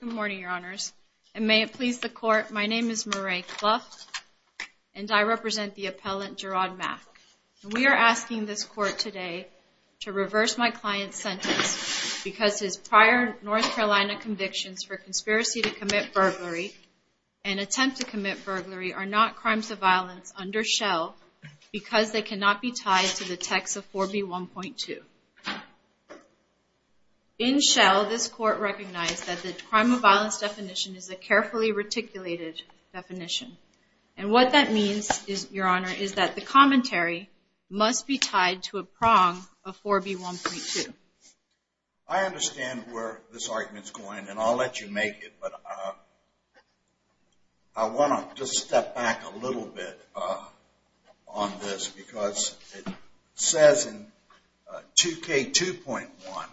Good morning, your honors, and may it please the court, my name is Marae Cluff and I represent the appellant Jerrod Mack. We are asking this court today to reverse my client's sentence because his prior North Carolina convictions for conspiracy to commit burglary and attempt to commit burglary are not crimes of violence under Shell because they cannot be tied to the text of 4b 1.2. In Shell, this crime of violence definition is a carefully reticulated definition and what that means is your honor is that the commentary must be tied to a prong of 4b 1.2. I understand where this argument is going and I'll let you make it but I want to just step back a little bit on this because it says in 2k 2.1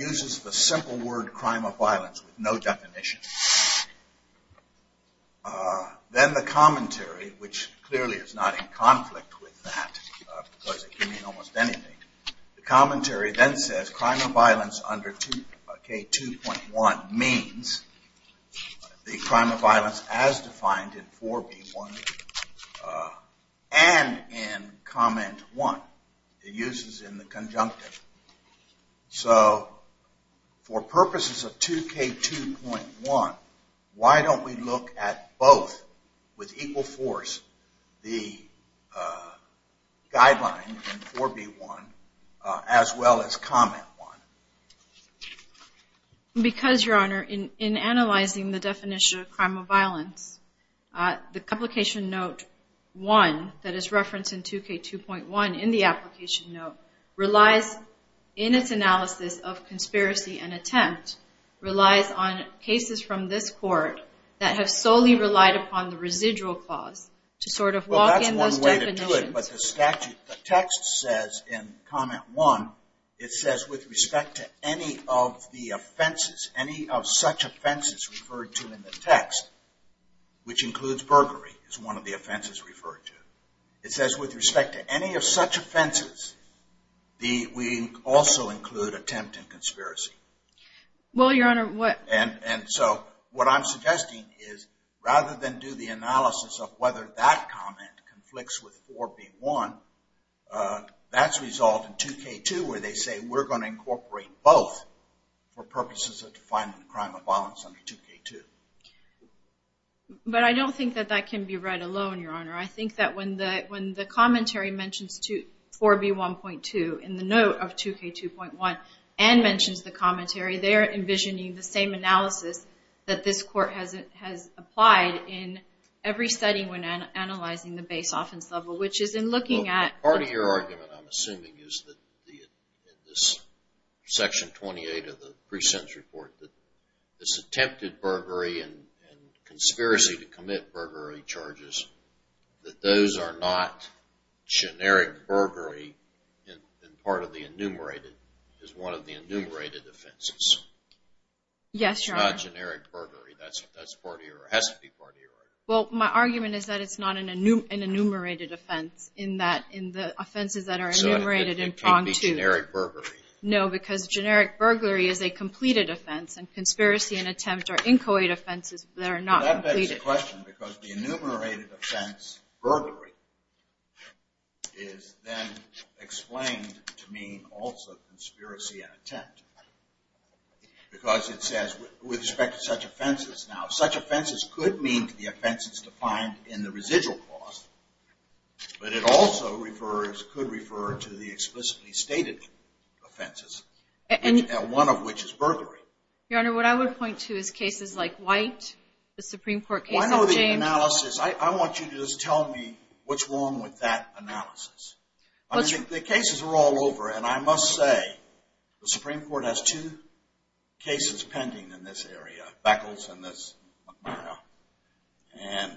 uses the simple word crime of violence with no definition. Then the commentary which clearly is not in conflict with that because it can mean almost anything. The commentary then says crime of violence under 2k 2.1 means the crime of violence. So for purposes of 2k 2.1, why don't we look at both with equal force the guideline in 4b 1.2 as well as comment 1.2. Because your honor in analyzing the definition of crime of violence, the complication note 1 that is referenced in 2k 2.1 in the application note, relies in its analysis of conspiracy and attempt, relies on cases from this court that have solely relied upon the residual clause to sort of walk in those definitions. Well that's one way to do it but the statute, the text says in comment 1, it says with respect to any of the offenses, any of such offenses referred to in the text which includes burglary is one of the offenses referred to, it says with respect to any of such offenses, we also include attempt and conspiracy. Well your honor what and and so what I'm suggesting is rather than do the analysis of whether that comment conflicts with 4b 1, that's resolved in 2k 2 where they say we're going to incorporate both for purposes of defining the crime of violence under 2k 2. But I don't think that that can be read alone your honor. I think that when the when the commentary mentions to 4b 1.2 in the note of 2k 2.1 and mentions the commentary, they're envisioning the same analysis that this court has it has applied in every setting when analyzing the base offense level which is in looking at. Part of your argument I'm that this attempted burglary and conspiracy to commit burglary charges that those are not generic burglary and part of the enumerated is one of the enumerated offenses. Yes your honor. It's not generic burglary. That's part of your argument. Well my argument is that it's not an enumerated offense in that in the offenses that are enumerated in prong 2. So it can't be generic burglary? No because generic burglary is a completed offense and conspiracy and attempt or inchoate offenses that are not completed. That begs the question because the enumerated offense burglary is then explained to mean also conspiracy and attempt. Because it says with respect to such offenses now such offenses could mean to the offenses defined in the residual clause but it also refers could refer to the explicitly stated offenses and one of which is burglary. Your honor what I would point to is cases like White the Supreme Court case. I know the analysis I want you to just tell me what's wrong with that analysis. I think the cases are all over and I must say the Supreme Court has two cases pending in this area. Beckles and this and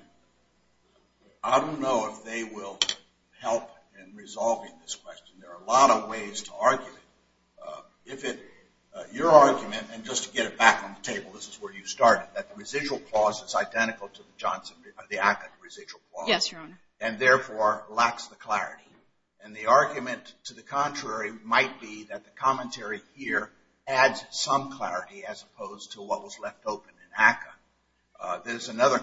I don't know if they will help in resolving this question. There are a lot of ways to argue it. If it your argument and just to get it back on the table this is where you started that the residual clause is identical to the Johnson the ACA residual clause. Yes your honor. And therefore lacks the clarity and the argument to the contrary might be that the commentary here adds some clarity as opposed to what was left open in ACA. There's another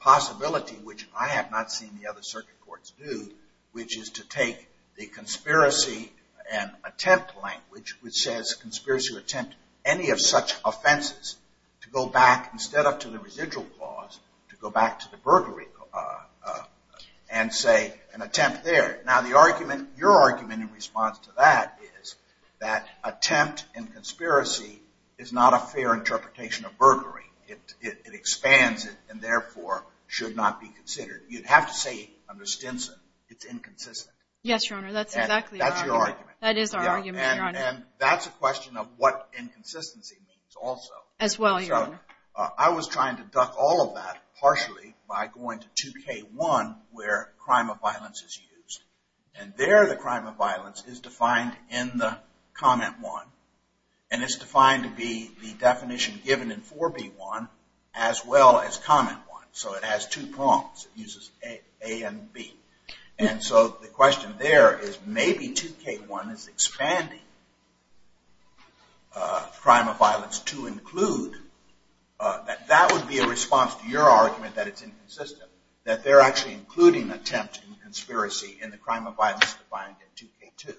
possibility which I have not seen the other circuit courts do which is to take the conspiracy and attempt language which says conspiracy attempt any of such offenses to go back instead of to the residual clause to go back to the burglary and say an attempt there. Now the argument your argument in response to that is that attempt and conspiracy is not a fair interpretation of burglary. It expands it and therefore should not be considered. You'd have to say under Stinson it's inconsistent. Yes your honor that's exactly. That's your argument. That is our argument. And that's a question of what inconsistency means also. As well your honor. I was trying to duck all of that partially by going to 2k1 where crime of violence is used and there the crime of violence is defined in the comment 1 and it's defined to be the uses A and B. And so the question there is maybe 2k1 is expanding crime of violence to include. That would be a response to your argument that it's inconsistent. That they're actually including attempt and conspiracy in the crime of violence defined in 2k2.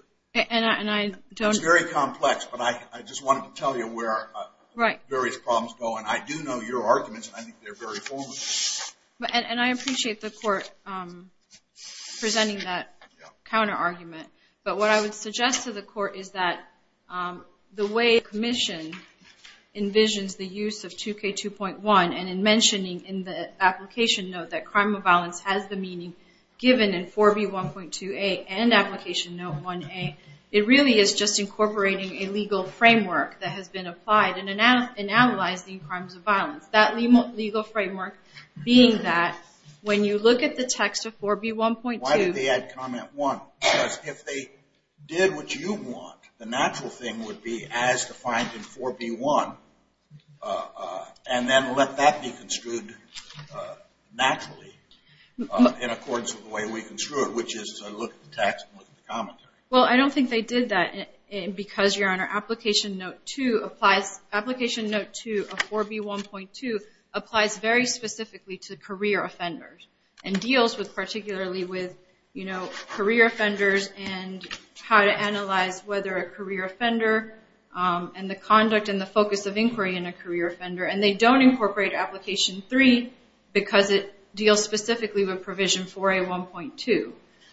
And I don't. It's very complex but I just wanted to tell you where various problems go and I do know your arguments and I think they're very formative. And I appreciate the court presenting that counter-argument but what I would suggest to the court is that the way the commission envisions the use of 2k2.1 and in mentioning in the application note that crime of violence has the meaning given in 4b1.2a and application note 1a it really is just incorporating a legal framework that has been applied in analyzing crimes of being that when you look at the text of 4b1.2. Why did they add comment 1? Because if they did what you want the natural thing would be as defined in 4b1 and then let that be construed naturally in accordance with the way we construe it which is look at the text and look at the commentary. Well I don't think they did that because your honor application note 2 applies application note 2 of 4b1.2 applies very specifically to career offenders and deals with particularly with you know career offenders and how to analyze whether a career offender and the conduct and the focus of inquiry in a career offender and they don't incorporate application 3 because it deals specifically with provision 4a1.2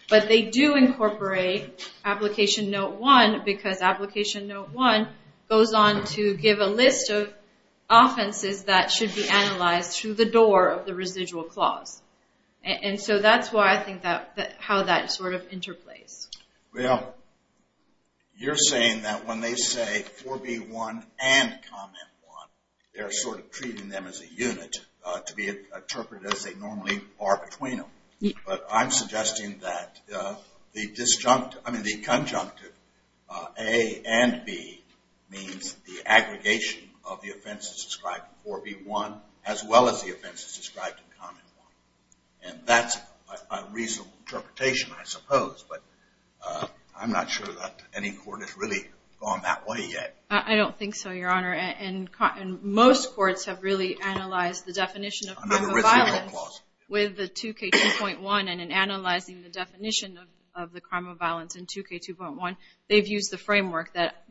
but they do incorporate application note 1 because application note 1 goes on to give a list of offenses that should be analyzed through the door of the residual clause and so that's why I think that how that sort of interplays. Well you're saying that when they say 4b1 and comment 1 they're sort of treating them as a unit to be interpreted as they normally are between them. But I'm suggesting that the disjunct I mean the conjunctive a and b means the aggregation of the offenses described in 4b1 as well as the offenses described in comment 1 and that's a reasonable interpretation I suppose but I'm not sure that any court has really gone that way yet. I don't think so your honor and most courts have really analyzed the definition of crime of violence with the 2k2.1 and in analyzing the definition of the crime of violence in 2k2.1 they've used the framework that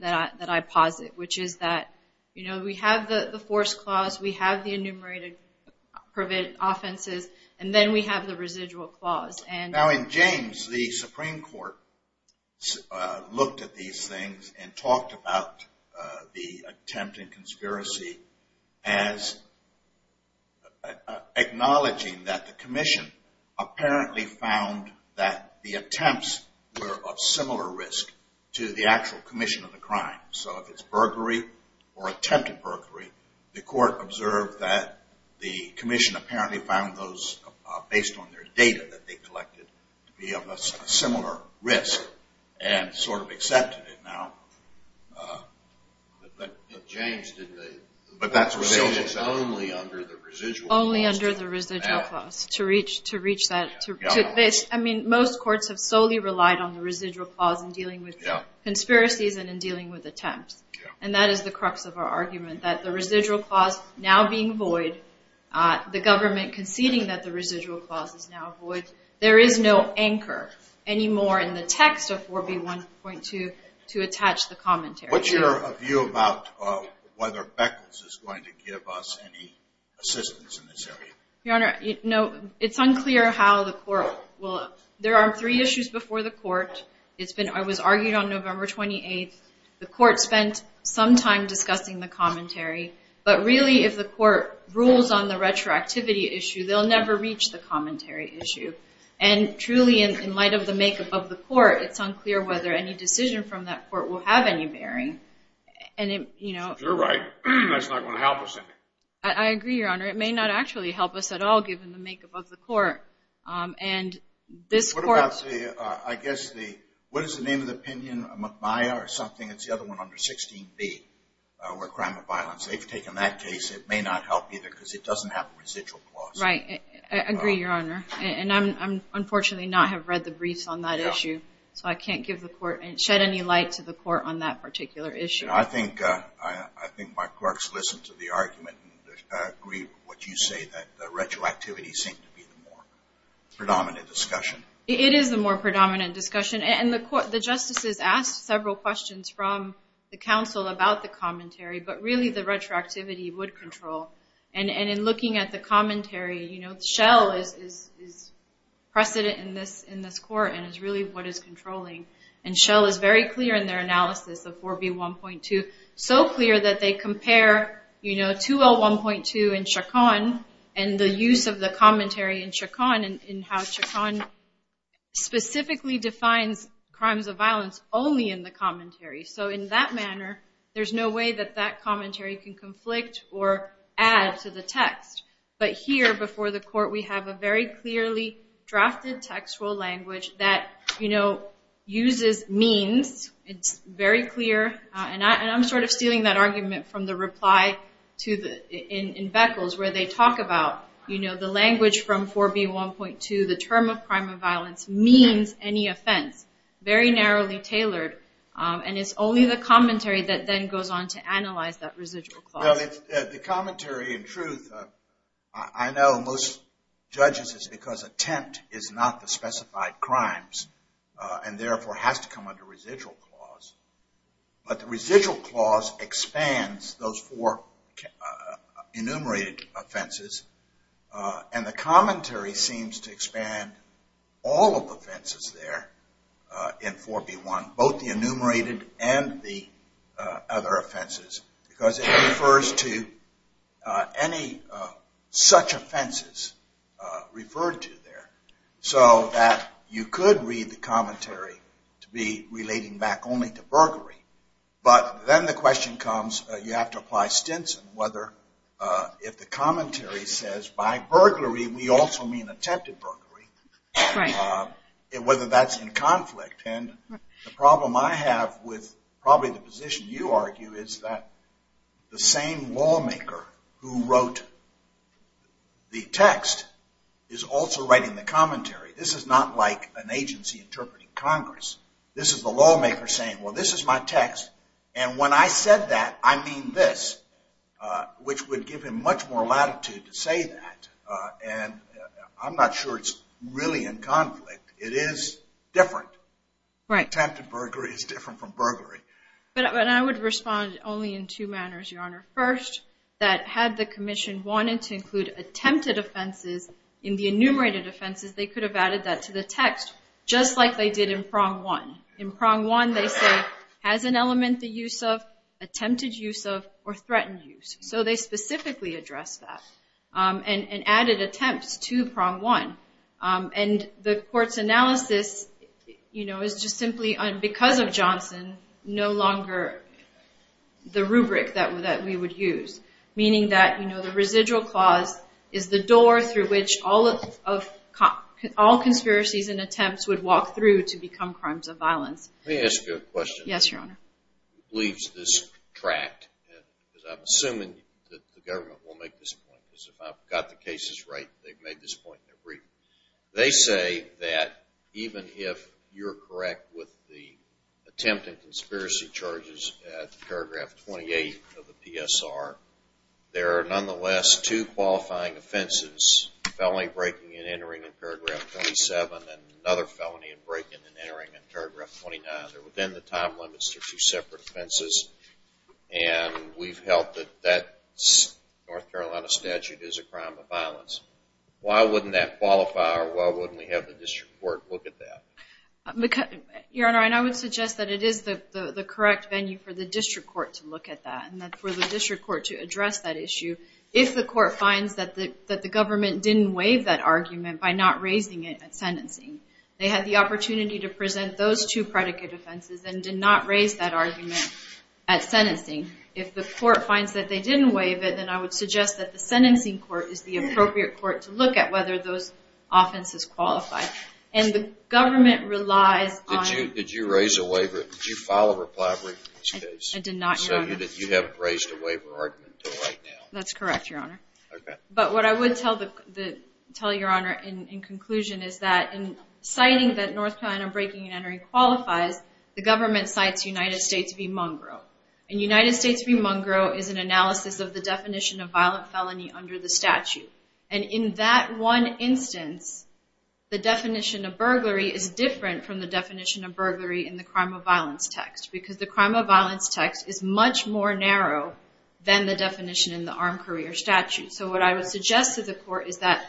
I posit which is that you know we have the force clause we have the enumerated prevent offenses and then we have the residual clause. Now in James the Supreme Court looked at these things and talked about the attempted conspiracy as acknowledging that the commission apparently found that the attempts were of similar risk to the actual commission of the crime. So if it's burglary or attempted burglary the court observed that the commission apparently found those based on their data that they collected to be of a similar risk and sort of accepted it now. But that's only under the residual clause. Only under the residual clause to reach that. I mean most courts have solely relied on the residual clause in dealing with conspiracies and in dealing with attempts and that is the crux of our argument that the residual clause now being void the government conceding that the residual clause is now void there is no anchor anymore in the text of 4b1.2 to attach the commentary. What's your view about whether Beckles is going to give us any assistance in this area? Your honor no it's unclear how the court will there are three issues before the court. The first is that the court has been waiting for the court. It's been I was argued on November 28th. The court spent some time discussing the commentary but really if the court rules on the retroactivity issue they'll never reach the commentary issue and truly in light of the makeup of the court it's unclear whether any decision from that court will have any bearing and you know. You're right. That's not going to help us any. I agree your honor it may not actually help us at all given the makeup of the court and this court. What about the I guess the what is the name of the opinion McMaia or something it's the other one under 16b where crime of violence they've taken that case it may not help either because it doesn't have a residual clause. Right I agree your honor and I'm unfortunately not have read the briefs on that issue so I can't give the court and shed any light to the court on that particular issue. I think I think my clerks listen to the argument and agree with what you say that the retroactivity seemed to be the more predominant discussion. It is the more predominant discussion and the court the justices asked several questions from the counsel about the commentary but really the retroactivity would control and in looking at the commentary you know Shell is precedent in this in this court and is really what is controlling and Shell is very clear in their analysis of 4b 1.2 so clear that they compare you know 2l 1.2 and Chacon and the use of the defines crimes of violence only in the commentary so in that manner there's no way that that commentary can conflict or add to the text but here before the court we have a very clearly drafted textual language that you know uses means it's very clear and I'm sort of stealing that argument from the reply to the in Beckles where they talk about you know the language from 4b 1.2 the term of crime of violence means any offense very narrowly tailored and it's only the commentary that then goes on to analyze that residual the commentary in truth I know most judges is because attempt is not the specified crimes and therefore has to come under residual clause but the residual clause expands those four enumerated offenses and the commentary seems to expand all of the fences there in 4b 1 both the enumerated and the other offenses because it refers to any such offenses referred to there so that you could read the commentary to be relating back only to burglary but then the question comes you have to apply Stinson whether if the commentary says by burglary we also mean attempted burglary it whether that's in conflict and the problem I have with probably the position you argue is that the same lawmaker who wrote the text is also writing the commentary this is not like an agency interpreting Congress this is a lawmaker saying well this is my text and when I said that I mean this which would give him much more latitude to say that and I'm not sure it's really in conflict it is different right time to burglary is different from burglary but I would respond only in two manners your honor first that had the Commission wanted to include attempted offenses in the enumerated offenses they could have that to the text just like they did in prong one in prong one they say has an element the use of attempted use of or threatened use so they specifically address that and added attempts to prong one and the courts analysis you know is just simply on because of Johnson no longer the rubric that we that we would use meaning that you know the residual clause is the door through which all of all conspiracies and attempts would walk through to become crimes of violence yes good question yes your honor leaves this tract because I'm assuming that the government will make this point is if I've got the cases right they've made this point every they say that even if you're correct with the attempted conspiracy charges paragraph 28 of the PSR there are nonetheless two qualifying offenses felony breaking and entering in paragraph 27 and another felony and breaking and entering in paragraph 29 they're within the time limits to two separate offenses and we've helped that that North Carolina statute is a crime of violence why wouldn't that qualify or why wouldn't we have the district court look at that because your honor and I would suggest that it is the the correct venue for the district court to look at that and that for the district court to that the government didn't waive that argument by not raising it at sentencing they had the opportunity to present those two predicate offenses and did not raise that argument at sentencing if the court finds that they didn't waive it then I would suggest that the sentencing court is the appropriate court to look at whether those offenses qualify and the government relies did you did you raise a waiver did you file a reply I did not know that you have raised a would tell the tell your honor in conclusion is that in citing that North Carolina breaking and entering qualifies the government cites United States v. Munroe and United States v. Munroe is an analysis of the definition of violent felony under the statute and in that one instance the definition of burglary is different from the definition of burglary in the crime of violence text because the crime of violence text is much more narrow than the definition in our career statute so what I would suggest to the court is that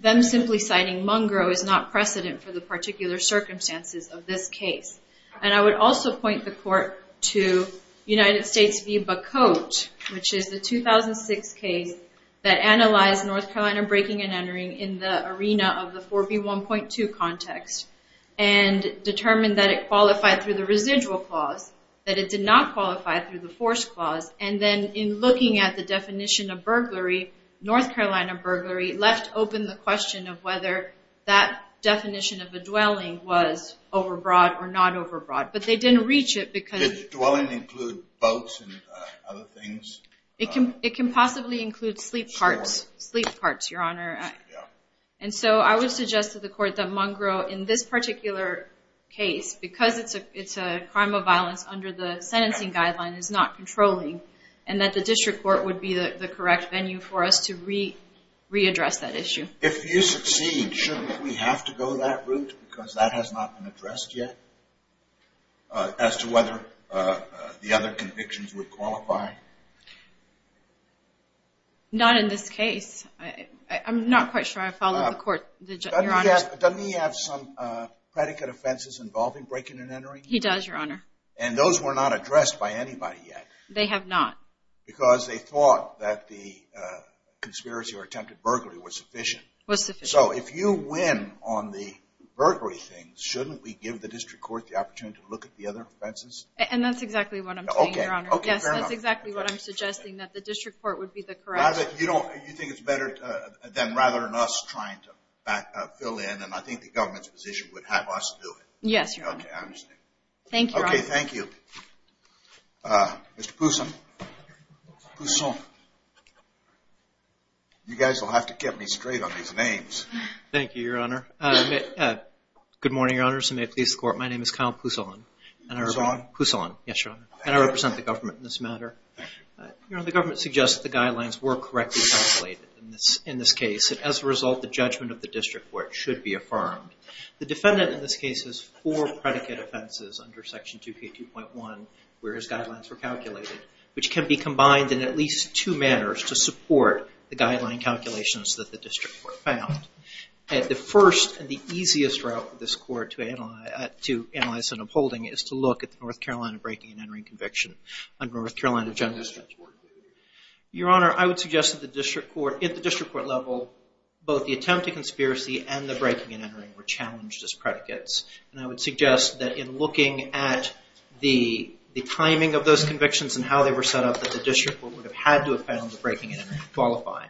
them simply citing Munroe is not precedent for the particular circumstances of this case and I would also point the court to United States v. Bacote which is the 2006 case that analyzed North Carolina breaking and entering in the arena of the 4b 1.2 context and determined that it qualified through the residual clause that it did not qualify through the force clause and then in looking at the definition of burglary North Carolina burglary left open the question of whether that definition of a dwelling was overbroad or not overbroad but they didn't reach it because dwelling include boats and other things it can it can possibly include sleep parts sleep parts your honor and so I would suggest to the court that Munroe in this particular case because it's a it's a crime of violence under the sentencing guideline is not controlling and that the district court would be the correct venue for us to read readdress that issue if you succeed shouldn't we have to go that route because that has not been addressed yet as to whether the other convictions would qualify not in this case I'm not quite sure I followed the court yeah doesn't he have some predicate offenses involving breaking and entering he does your honor and those were not addressed by anybody yet they have not because they thought that the conspiracy or attempted burglary was sufficient was sufficient so if you win on the burglary things shouldn't we give the district court the opportunity to look at the other offenses and that's exactly what I'm okay okay that's exactly what I'm suggesting that the district court would be the correct you don't you think it's better than rather than us trying to fill in and I think the government's position would have us yes thank you okay thank you you guys will have to get me straight on these names thank you your honor good morning your honors and may it please the court my name is Kyle Pousson and I was on who's on yes sure and I represent the government in this matter you know the government suggests the guidelines were correctly calculated in this in this case and as a result the judgment of the four predicate offenses under section 2k 2.1 where his guidelines were calculated which can be combined in at least two manners to support the guideline calculations that the district were found at the first and the easiest route for this court to analyze to analyze and upholding is to look at the North Carolina breaking and entering conviction under North Carolina justice your honor I would suggest that the district court at the district court level both the attempt to conspiracy and the breaking and entering were and I would suggest that in looking at the the timing of those convictions and how they were set up that the district would have had to have found the breaking and qualifying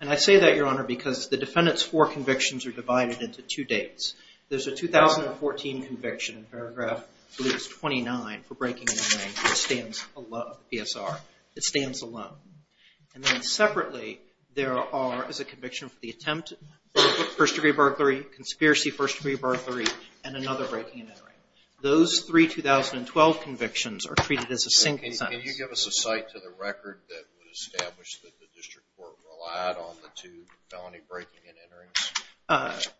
and I say that your honor because the defendants for convictions are divided into two dates there's a 2014 conviction in paragraph police 29 for breaking in a man who stands a lot of PSR it stands alone and then separately there are as a conviction for the attempt first-degree burglary conspiracy first-degree burglary and another breaking and entering those three 2012 convictions are treated as a single site to the record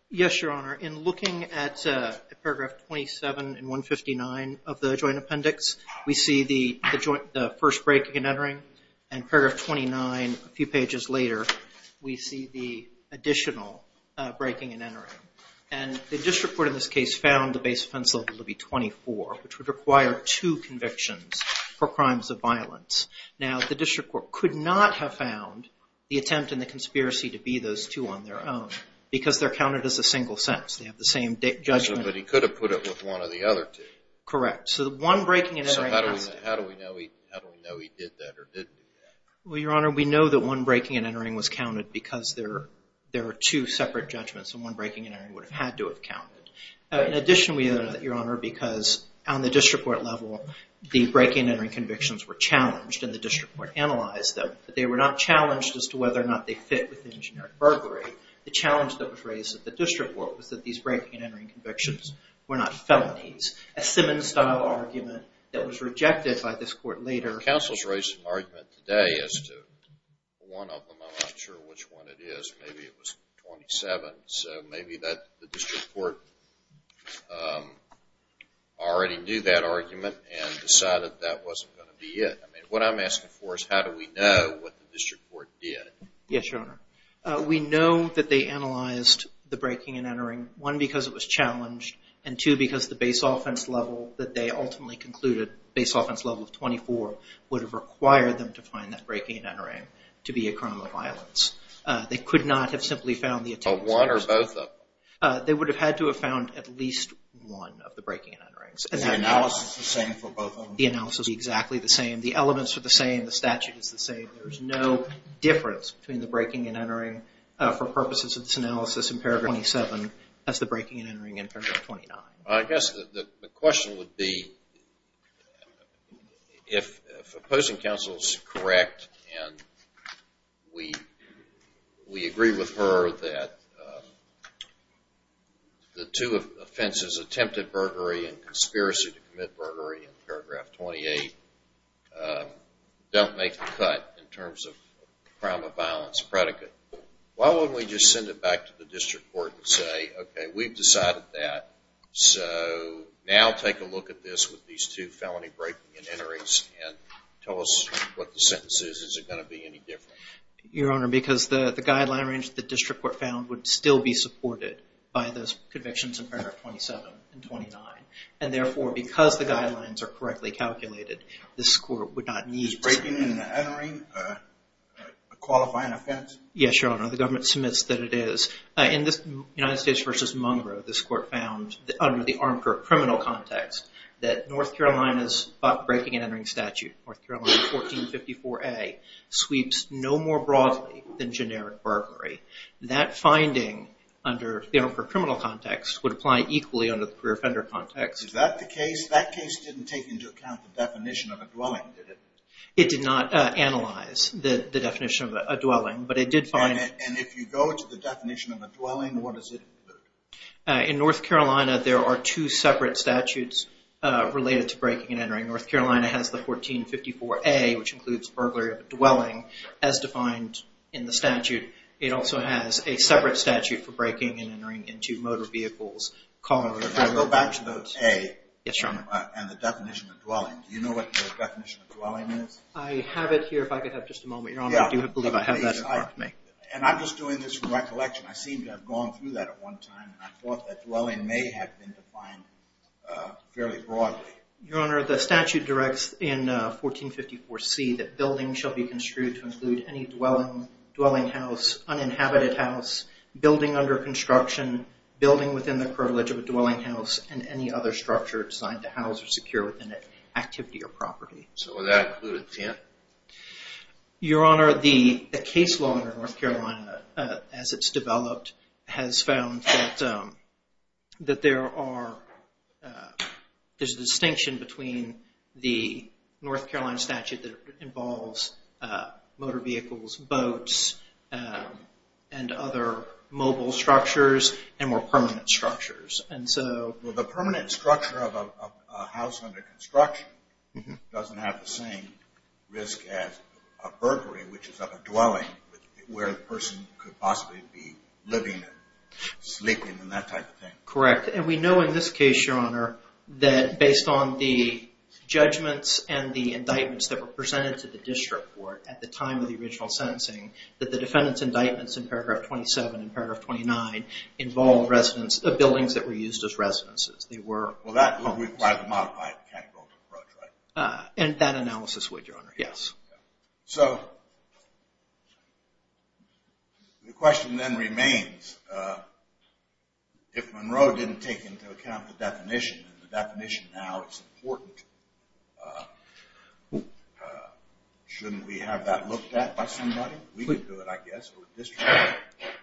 yes your honor in looking at paragraph 27 and 159 of the joint appendix we see the joint first breaking and entering and paragraph 29 a few and the district court in this case found the base pencil to be 24 which would require two convictions for crimes of violence now the district court could not have found the attempt in the conspiracy to be those two on their own because they're counted as a single sense they have the same judgment but he could have put it with one of the other two correct so the one breaking and entering how do we know we know he did that or didn't well your honor we know that one breaking and entering was counted because there there are two separate judgments and one breaking and entering would have had to have counted in addition we know that your honor because on the district court level the breaking and entering convictions were challenged in the district court analyzed them but they were not challenged as to whether or not they fit with the engineering burglary the challenge that was raised at the district work was that these breaking and entering convictions were not felonies a Simmons style argument that was rejected by this court later argument today is to one of them I'm not sure which one it is maybe it was 27 so maybe that the district court already knew that argument and decided that wasn't going to be it I mean what I'm asking for is how do we know what the district court did yes your honor we know that they analyzed the breaking and entering one because it was challenged and two because the base offense level that they ultimately concluded base offense level of 24 would have required them to find that breaking and entering to be a crime of violence they could not have simply found the one or both of them they would have had to have found at least one of the breaking and enterings and analysis the same for both the analysis be exactly the same the elements are the same the statute is the same there's no difference between the breaking and entering for purposes of this analysis in paragraph 27 as the breaking and entering in 29 I guess the question would be if opposing counsels correct and we we agree with her that the two offenses attempted burglary and conspiracy to commit burglary in paragraph 28 don't make the cut in terms of crime of violence predicate why wouldn't we just send it back to the district court and we've decided that so now take a look at this with these two felony breaking and enterings and tell us what the sentence is is it going to be any different your honor because the the guideline range the district court found would still be supported by those convictions in paragraph 27 and 29 and therefore because the guidelines are correctly calculated this court would not need breaking and entering a qualifying offense yes your honor the United States versus mongrel this court found under the arm for a criminal context that North Carolina's but breaking and entering statute or throwing 1454 a sweeps no more broadly than generic burglary that finding under the arm for criminal context would apply equally under the career offender context that the case that case didn't take into account the definition of a dwelling it did not analyze the definition of a dwelling but it did go to the definition of a dwelling what is it in North Carolina there are two separate statutes related to breaking and entering North Carolina has the 1454 a which includes burglary of a dwelling as defined in the statute it also has a separate statute for breaking and entering into motor vehicles calling and I'm just doing this recollection I seem to have gone through that at one time I thought that dwelling may have been defined fairly broadly your honor the statute directs in 1454 see that building shall be construed to include any dwelling dwelling house uninhabited house building under construction building within the privilege of a dwelling house and any other structure designed to house or secure within it activity or property so that included your honor the case law in North Carolina as it's developed has found that that there are there's a distinction between the North Carolina statute that involves motor vehicles boats and other mobile structures and more permanent structures and so the permanent structure of a house under construction doesn't have the same risk as a burglary which is of a dwelling where the person could possibly be living sleeping and that type of thing correct and we know in this case your honor that based on the judgments and the indictments that were presented to the district court at the time of the original sentencing that the defendants indictments in paragraph 27 in paragraph 29 involved residents of buildings that were used as residences they were well and that analysis would your honor yes so the question then remains if Monroe didn't take into account the definition and the definition now it's important shouldn't we have that looked at by somebody we would do it I guess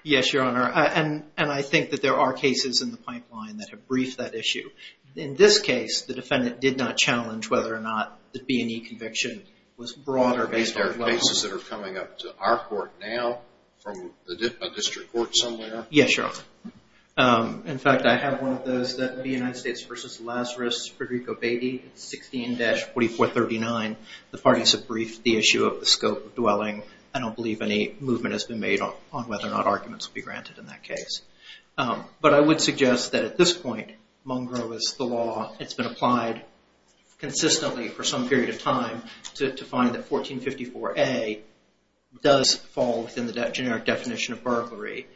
yes your honor and and I think that there are cases in the pipeline that have briefed that issue in this case the defendant did not challenge whether or not the B&E conviction was broader based on cases that are coming up to our court now from the district court somewhere yes your honor in fact I have one of those that the United States versus Lazarus for Rico baby 16-44 39 the parties have briefed the issue of the scope of dwelling I don't believe any movement has been made on whether or not arguments will be granted in that case but I would suggest that at this point mongrel is the law it's been applied consistently for some period of time to find that 1454 a does fall within the generic definition of burglary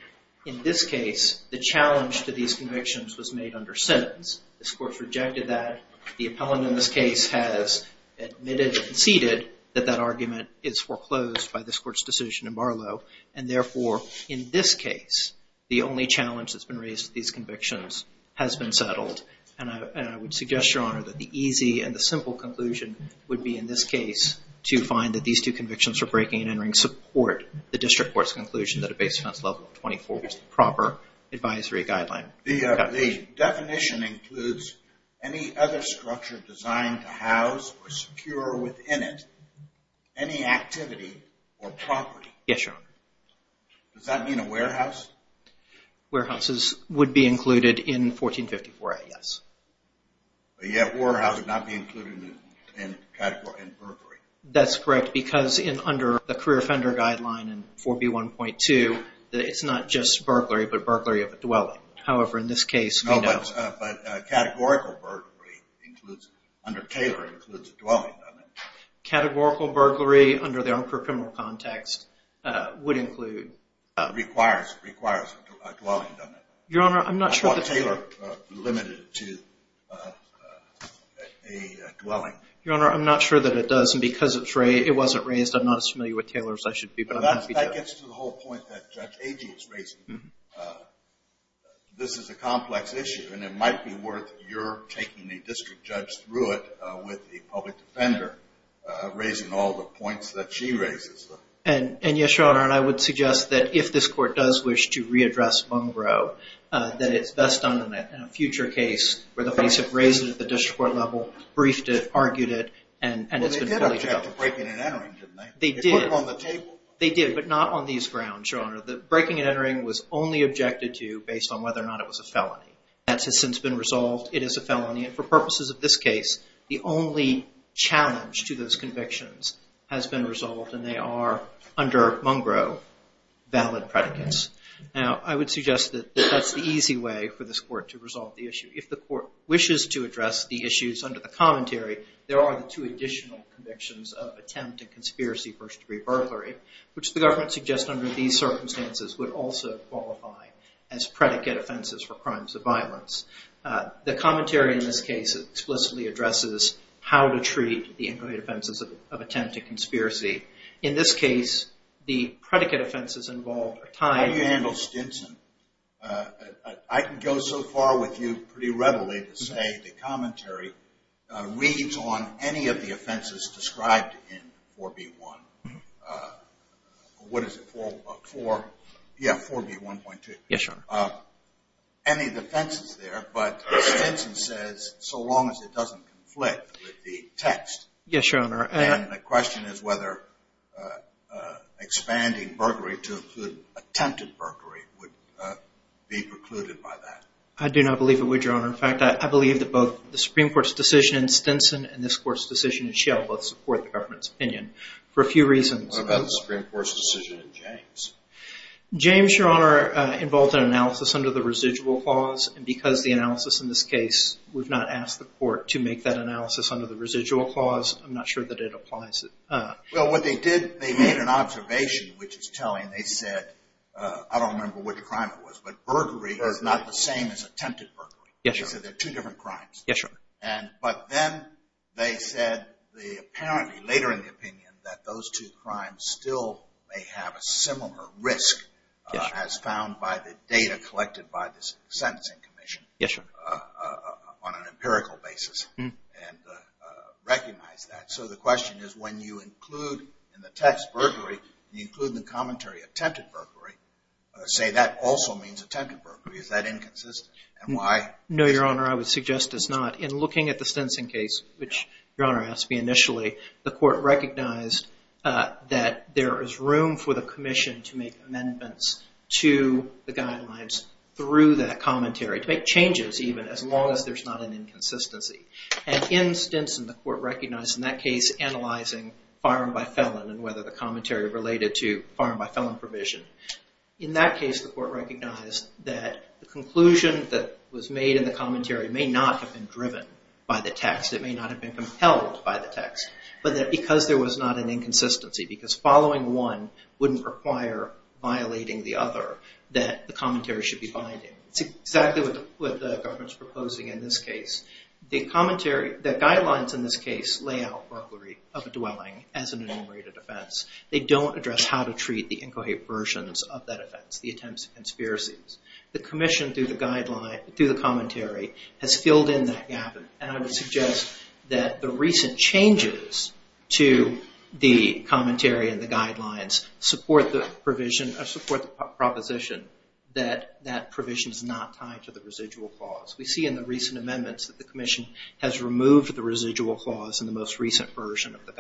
in this case the challenge to these convictions was made under sentence this court rejected that the appellant in this case has admitted and conceded that that argument is foreclosed by this court's decision in Barlow and therefore in this case the only challenge that's been raised these convictions has been settled and I would suggest your honor that the easy and the simple conclusion would be in this case to find that these two convictions for breaking and entering support the district court's conclusion that a base fence level 24 was the proper advisory guideline the definition includes any other structure designed to house or secure within it any activity or property yes your honor does that mean a warehouse warehouses would be included in 1454 a yes that's correct because in under the career offender guideline and 4b 1.2 that it's not just burglary but burglary of a dwelling however in this case no but categorical burglary includes under Taylor includes categorical burglary under their own criminal context would include requires requires your honor I'm not sure that Taylor limited to a dwelling your honor I'm not sure that it does and because it's Ray it wasn't raised I'm not as familiar with Taylor's I should be but that gets to the whole point that this is a complex issue and it might be worth your taking a district judge through it with the public defender raising all the points that she raises and and yes your honor and I would suggest that if this court does wish to readdress Munro that it's best on the net in a future case where the police have raised it at the district court level briefed it argued it and they did on the table they did but not on these grounds your honor that breaking and entering was only objected to based on whether or not it was a felony that's has since been resolved it is a felony and for purposes of this case the only challenge to those convictions has been resolved and they are under Munro valid predicates now I would suggest that that's the easy way for this court to resolve the issue if the court wishes to address the issues under the commentary there are two additional convictions of attempt at conspiracy first-degree burglary which the government suggests under these circumstances would also qualify as the commentary in this case explicitly addresses how to treat the inquiry offenses of attempt at conspiracy in this case the predicate offenses involved are time handled Stinson I can go so far with you pretty readily to say the commentary reads on any of the offenses described in 4b1 what is it for yes sure any defenses there but Stinson says so long as it doesn't conflict the text yes your honor and the question is whether expanding burglary to attempted burglary would be precluded by that I do not believe it would your honor in fact I believe that both the Supreme Court's decision in Stinson and this course decision shall both support the government's opinion for a few reasons Supreme Court's decision in James James your honor involved an analysis under the residual clause and because the analysis in this case we've not asked the court to make that analysis under the residual clause I'm not sure that it applies it well what they did they made an observation which is telling they said I don't remember what the crime it was but burglary does not the same as attempted burglary yes so they're two different crimes yes sure and but then they said the apparently later in the opinion that those two crimes still may have a similar risk as found by the data collected by this sentencing commission yes sir on an empirical basis and recognize that so the question is when you include in the text burglary you include the commentary attempted burglary say that also means attempted burglary is that inconsistent and why no your honor I would suggest it's not in looking at the Stinson case which your honor asked me initially the court recognized that there is room for the Commission to make amendments to the guidelines through that commentary to make changes even as long as there's not an inconsistency and in Stinson the court recognized in that case analyzing firearm by felon and whether the commentary related to firearm by felon provision in that case the court recognized that the conclusion that was made in the commentary may not have been driven by the text it may not have been compelled by the text but that because there was not an inconsistency because following one wouldn't require violating the other that the commentary should be binding it's exactly what the government's proposing in this case the commentary that guidelines in this case lay out burglary of a dwelling as an enumerated offense they don't address how to treat the incoherent versions of that offense the attempts conspiracies the Commission through the guideline through the commentary has filled in that gap and I would suggest that the recent changes to the commentary and the guidelines support the provision of support proposition that that provision is not tied to the residual clause we see in the recent amendments that the Commission has removed the residual clause in the most recent version of the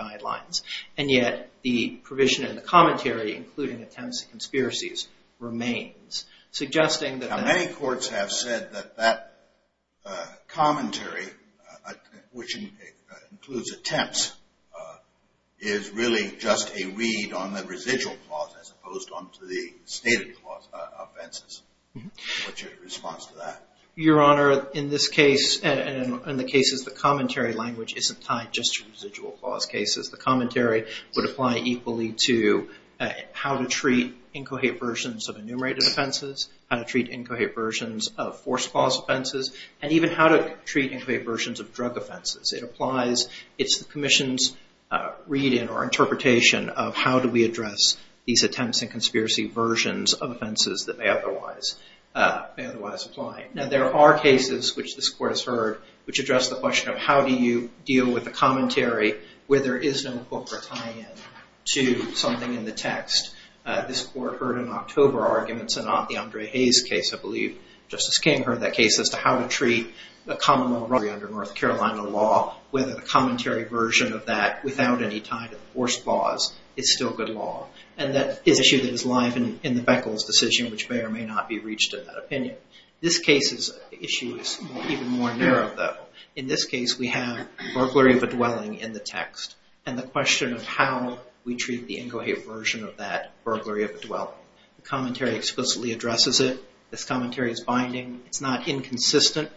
commentary including attempts conspiracies remains suggesting that many courts have said that that commentary which includes attempts is really just a read on the residual clause as opposed to the stated clause offenses which is a response to that your honor in this case and in the cases the commentary language isn't tied just to residual clause cases the commentary would apply equally to how to treat incoherent versions of enumerated offenses how to treat incoherent versions of forced clause offenses and even how to treat incoherent versions of drug offenses it applies it's the Commission's reading or interpretation of how do we address these attempts and conspiracy versions of offenses that may otherwise may otherwise apply now there are cases which this court has heard which address the question of how do you deal with the commentary where there is no book or tie-in to something in the text this court heard in October arguments and on the Andre Hayes case I believe Justice King heard that case as to how to treat a common law under North Carolina law with a commentary version of that without any tie to the forced clause it's still good law and that issue that is live in in the Beckles decision which may or may not be reached in that opinion this case is even more narrow though in this case we have burglary of a dwelling in the text and the question of how we treat the incoherent version of that burglary of a dwelling the commentary explicitly addresses it this commentary is binding it's not inconsistent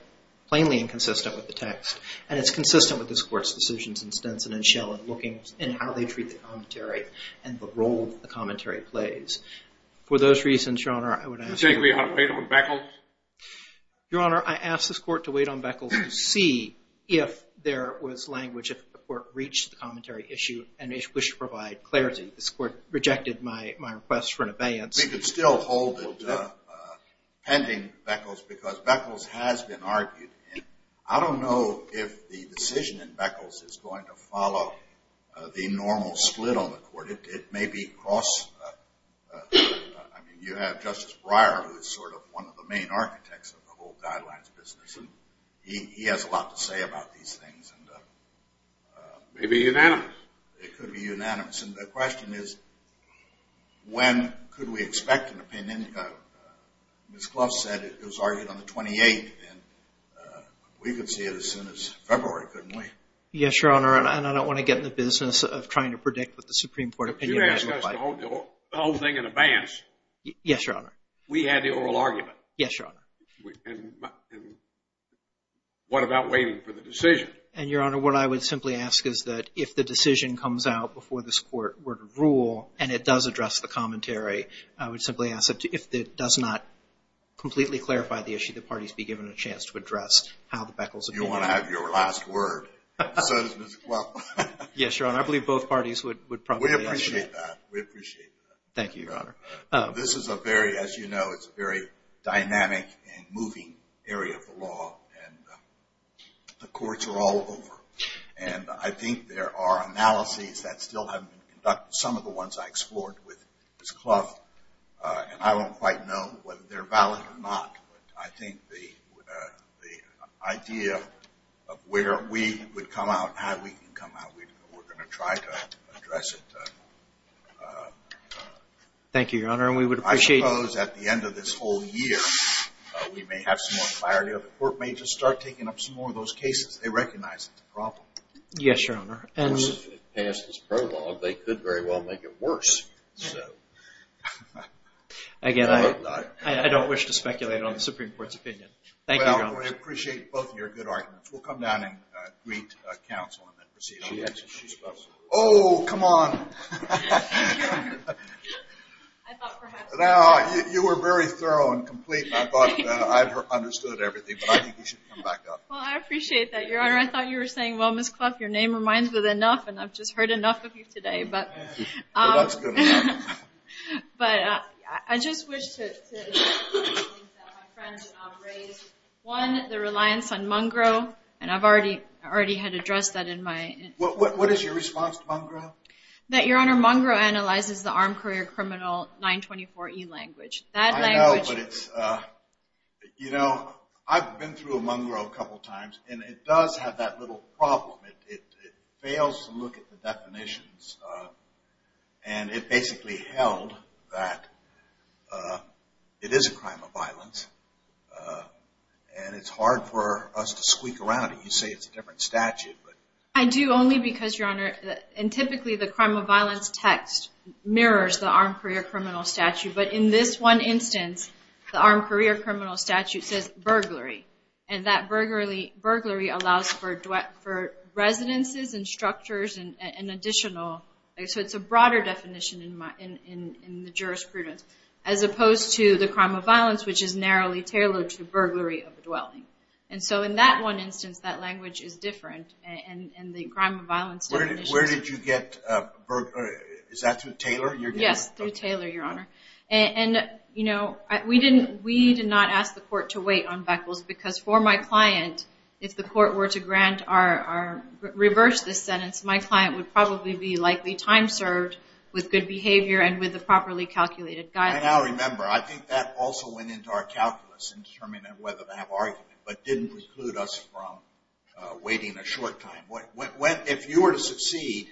plainly inconsistent with the text and it's consistent with this court's decisions in Stinson and Schell and looking in how they treat the commentary and the role the commentary plays for those reasons your honor I asked this court to wait on Beckles to see if there was language if the court reached the commentary issue and they should provide clarity this court rejected my my request for an abeyance we could still hold it pending Beckles because Beckles has been argued I don't know if the decision in Beckles is going to follow the normal split on the court it may be cross I mean you have Justice Breyer who is sort of one of the main architects of the whole guidelines business and he has a lot to say about these things and maybe unanimous it could be unanimous and the question is when could we expect an opinion miss Klaus said it was argued on the 28th and we could see it as soon as February couldn't we yes your honor and I don't want to get in the business of trying to predict with the Supreme Court opinion the whole thing in advance yes your honor we had the oral argument yes your honor what about waiting for the decision and your honor what I would simply ask is that if the decision comes out before this court were to rule and it does address the commentary I would simply ask it to if that does not completely clarify the issue the parties be given a word yes your honor I believe both parties would we appreciate thank you your honor this is a very as you know it's very dynamic and moving area of the law and the courts are all over and I think there are analyses that still haven't conducted some of the ones I explored with this cloth and I don't quite know whether they're valid or not I think the idea of where we would come out how we can come out we're going to try to address it thank you your honor and we would appreciate those at the end of this whole year we may have some clarity of the court may just start taking up some more of those cases they recognize it's a problem yes your honor and past this prologue they could very well make it worse again I don't wish to speculate on the Supreme Court's opinion thank you appreciate both your good arguments we'll come down and greet counsel oh come on now you were very thorough and complete I thought I've understood everything well I appreciate that your honor I thought you were saying well miss clock your name reminds with enough and I've just heard enough of you today but but I just wish one the reliance on mongrel and I've already already had addressed that in my what is your response to mongrel that your honor mongrel analyzes the armed career criminal 924 e language that I know but it's you know I've been through a mongrel a couple times and it does have that little problem it fails to look at the definitions and it basically held that it is a crime of violence and it's hard for us to squeak around you say it's a different statute but I do only because your honor and typically the crime of violence text mirrors the armed career criminal statute but in this one instance the armed career criminal statute says burglary and that burglary burglary allows for duet for residences and structures and an additional so it's a broader definition in my in the jurisprudence as opposed to the crime of violence which is narrowly tailored to burglary of dwelling and so in that one instance that language is different and in the crime of violence where did you get is that to Taylor yes through Taylor your honor and you know we didn't we did not ask the court to wait on beckles because for my client if the court were to grant our reverse this sentence my client would probably be likely time served with good behavior and with the properly calculated guy now remember I think that also went into our calculus in determining whether they have argued but didn't preclude us from waiting a short time what went if you were to succeed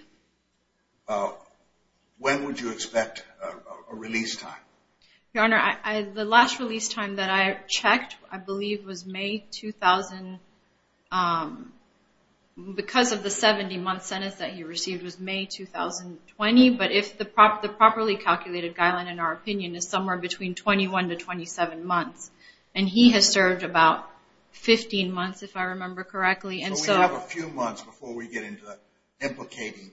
when would you expect a release time your honor I the last release time that I checked I believe was made 2000 because of the 70 month sentence that you received was made 2020 but if the prop the properly calculated guideline in our opinion is somewhere between 21 to 27 months and he has served about 15 months if I remember correctly and so a few months before we get into implicating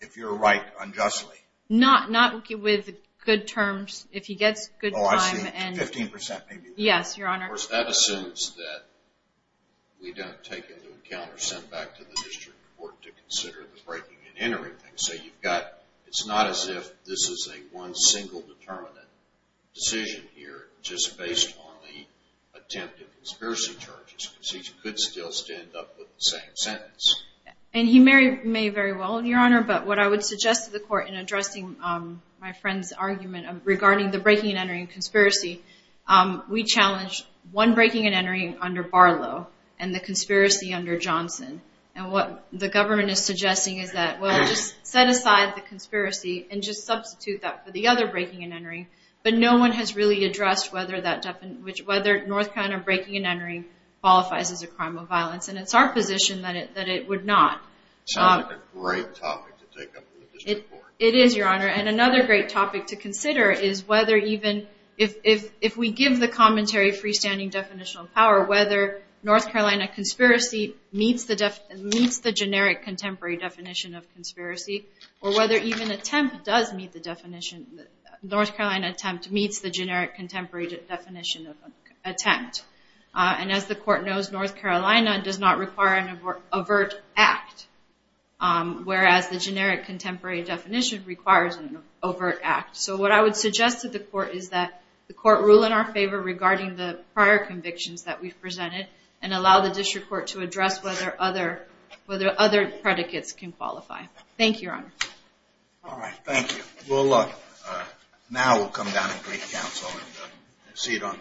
if you're right unjustly not not with good terms if he gets good 15% yes your honor that assumes that we don't take into account or send back to the district court to consider the breaking and entering things so you've got it's not as if this is a one single determinant decision here just based on the attempt at conspiracy charges she could still stand up with the same and he married me very well in your honor but what I would suggest to the court in addressing my friend's argument regarding the breaking and entering conspiracy we challenged one breaking and entering under Barlow and the conspiracy under Johnson and what the government is suggesting is that well just set aside the conspiracy and just substitute that for the other breaking and entering but no one has really addressed whether that definite which whether North kind of breaking and entering qualifies as a crime of that it would not it is your honor and another great topic to consider is whether even if if if we give the commentary freestanding definitional power whether North Carolina conspiracy meets the def meets the generic contemporary definition of conspiracy or whether even attempt does meet the definition North Carolina attempt meets the generic contemporary definition of attempt and as the court knows North Carolina does not require an overt act whereas the generic contemporary definition requires an overt act so what I would suggest to the court is that the court rule in our favor regarding the prior convictions that we've presented and allow the district court to address whether other whether other predicates can qualify thank you all right thank you well look now we'll come down and see it on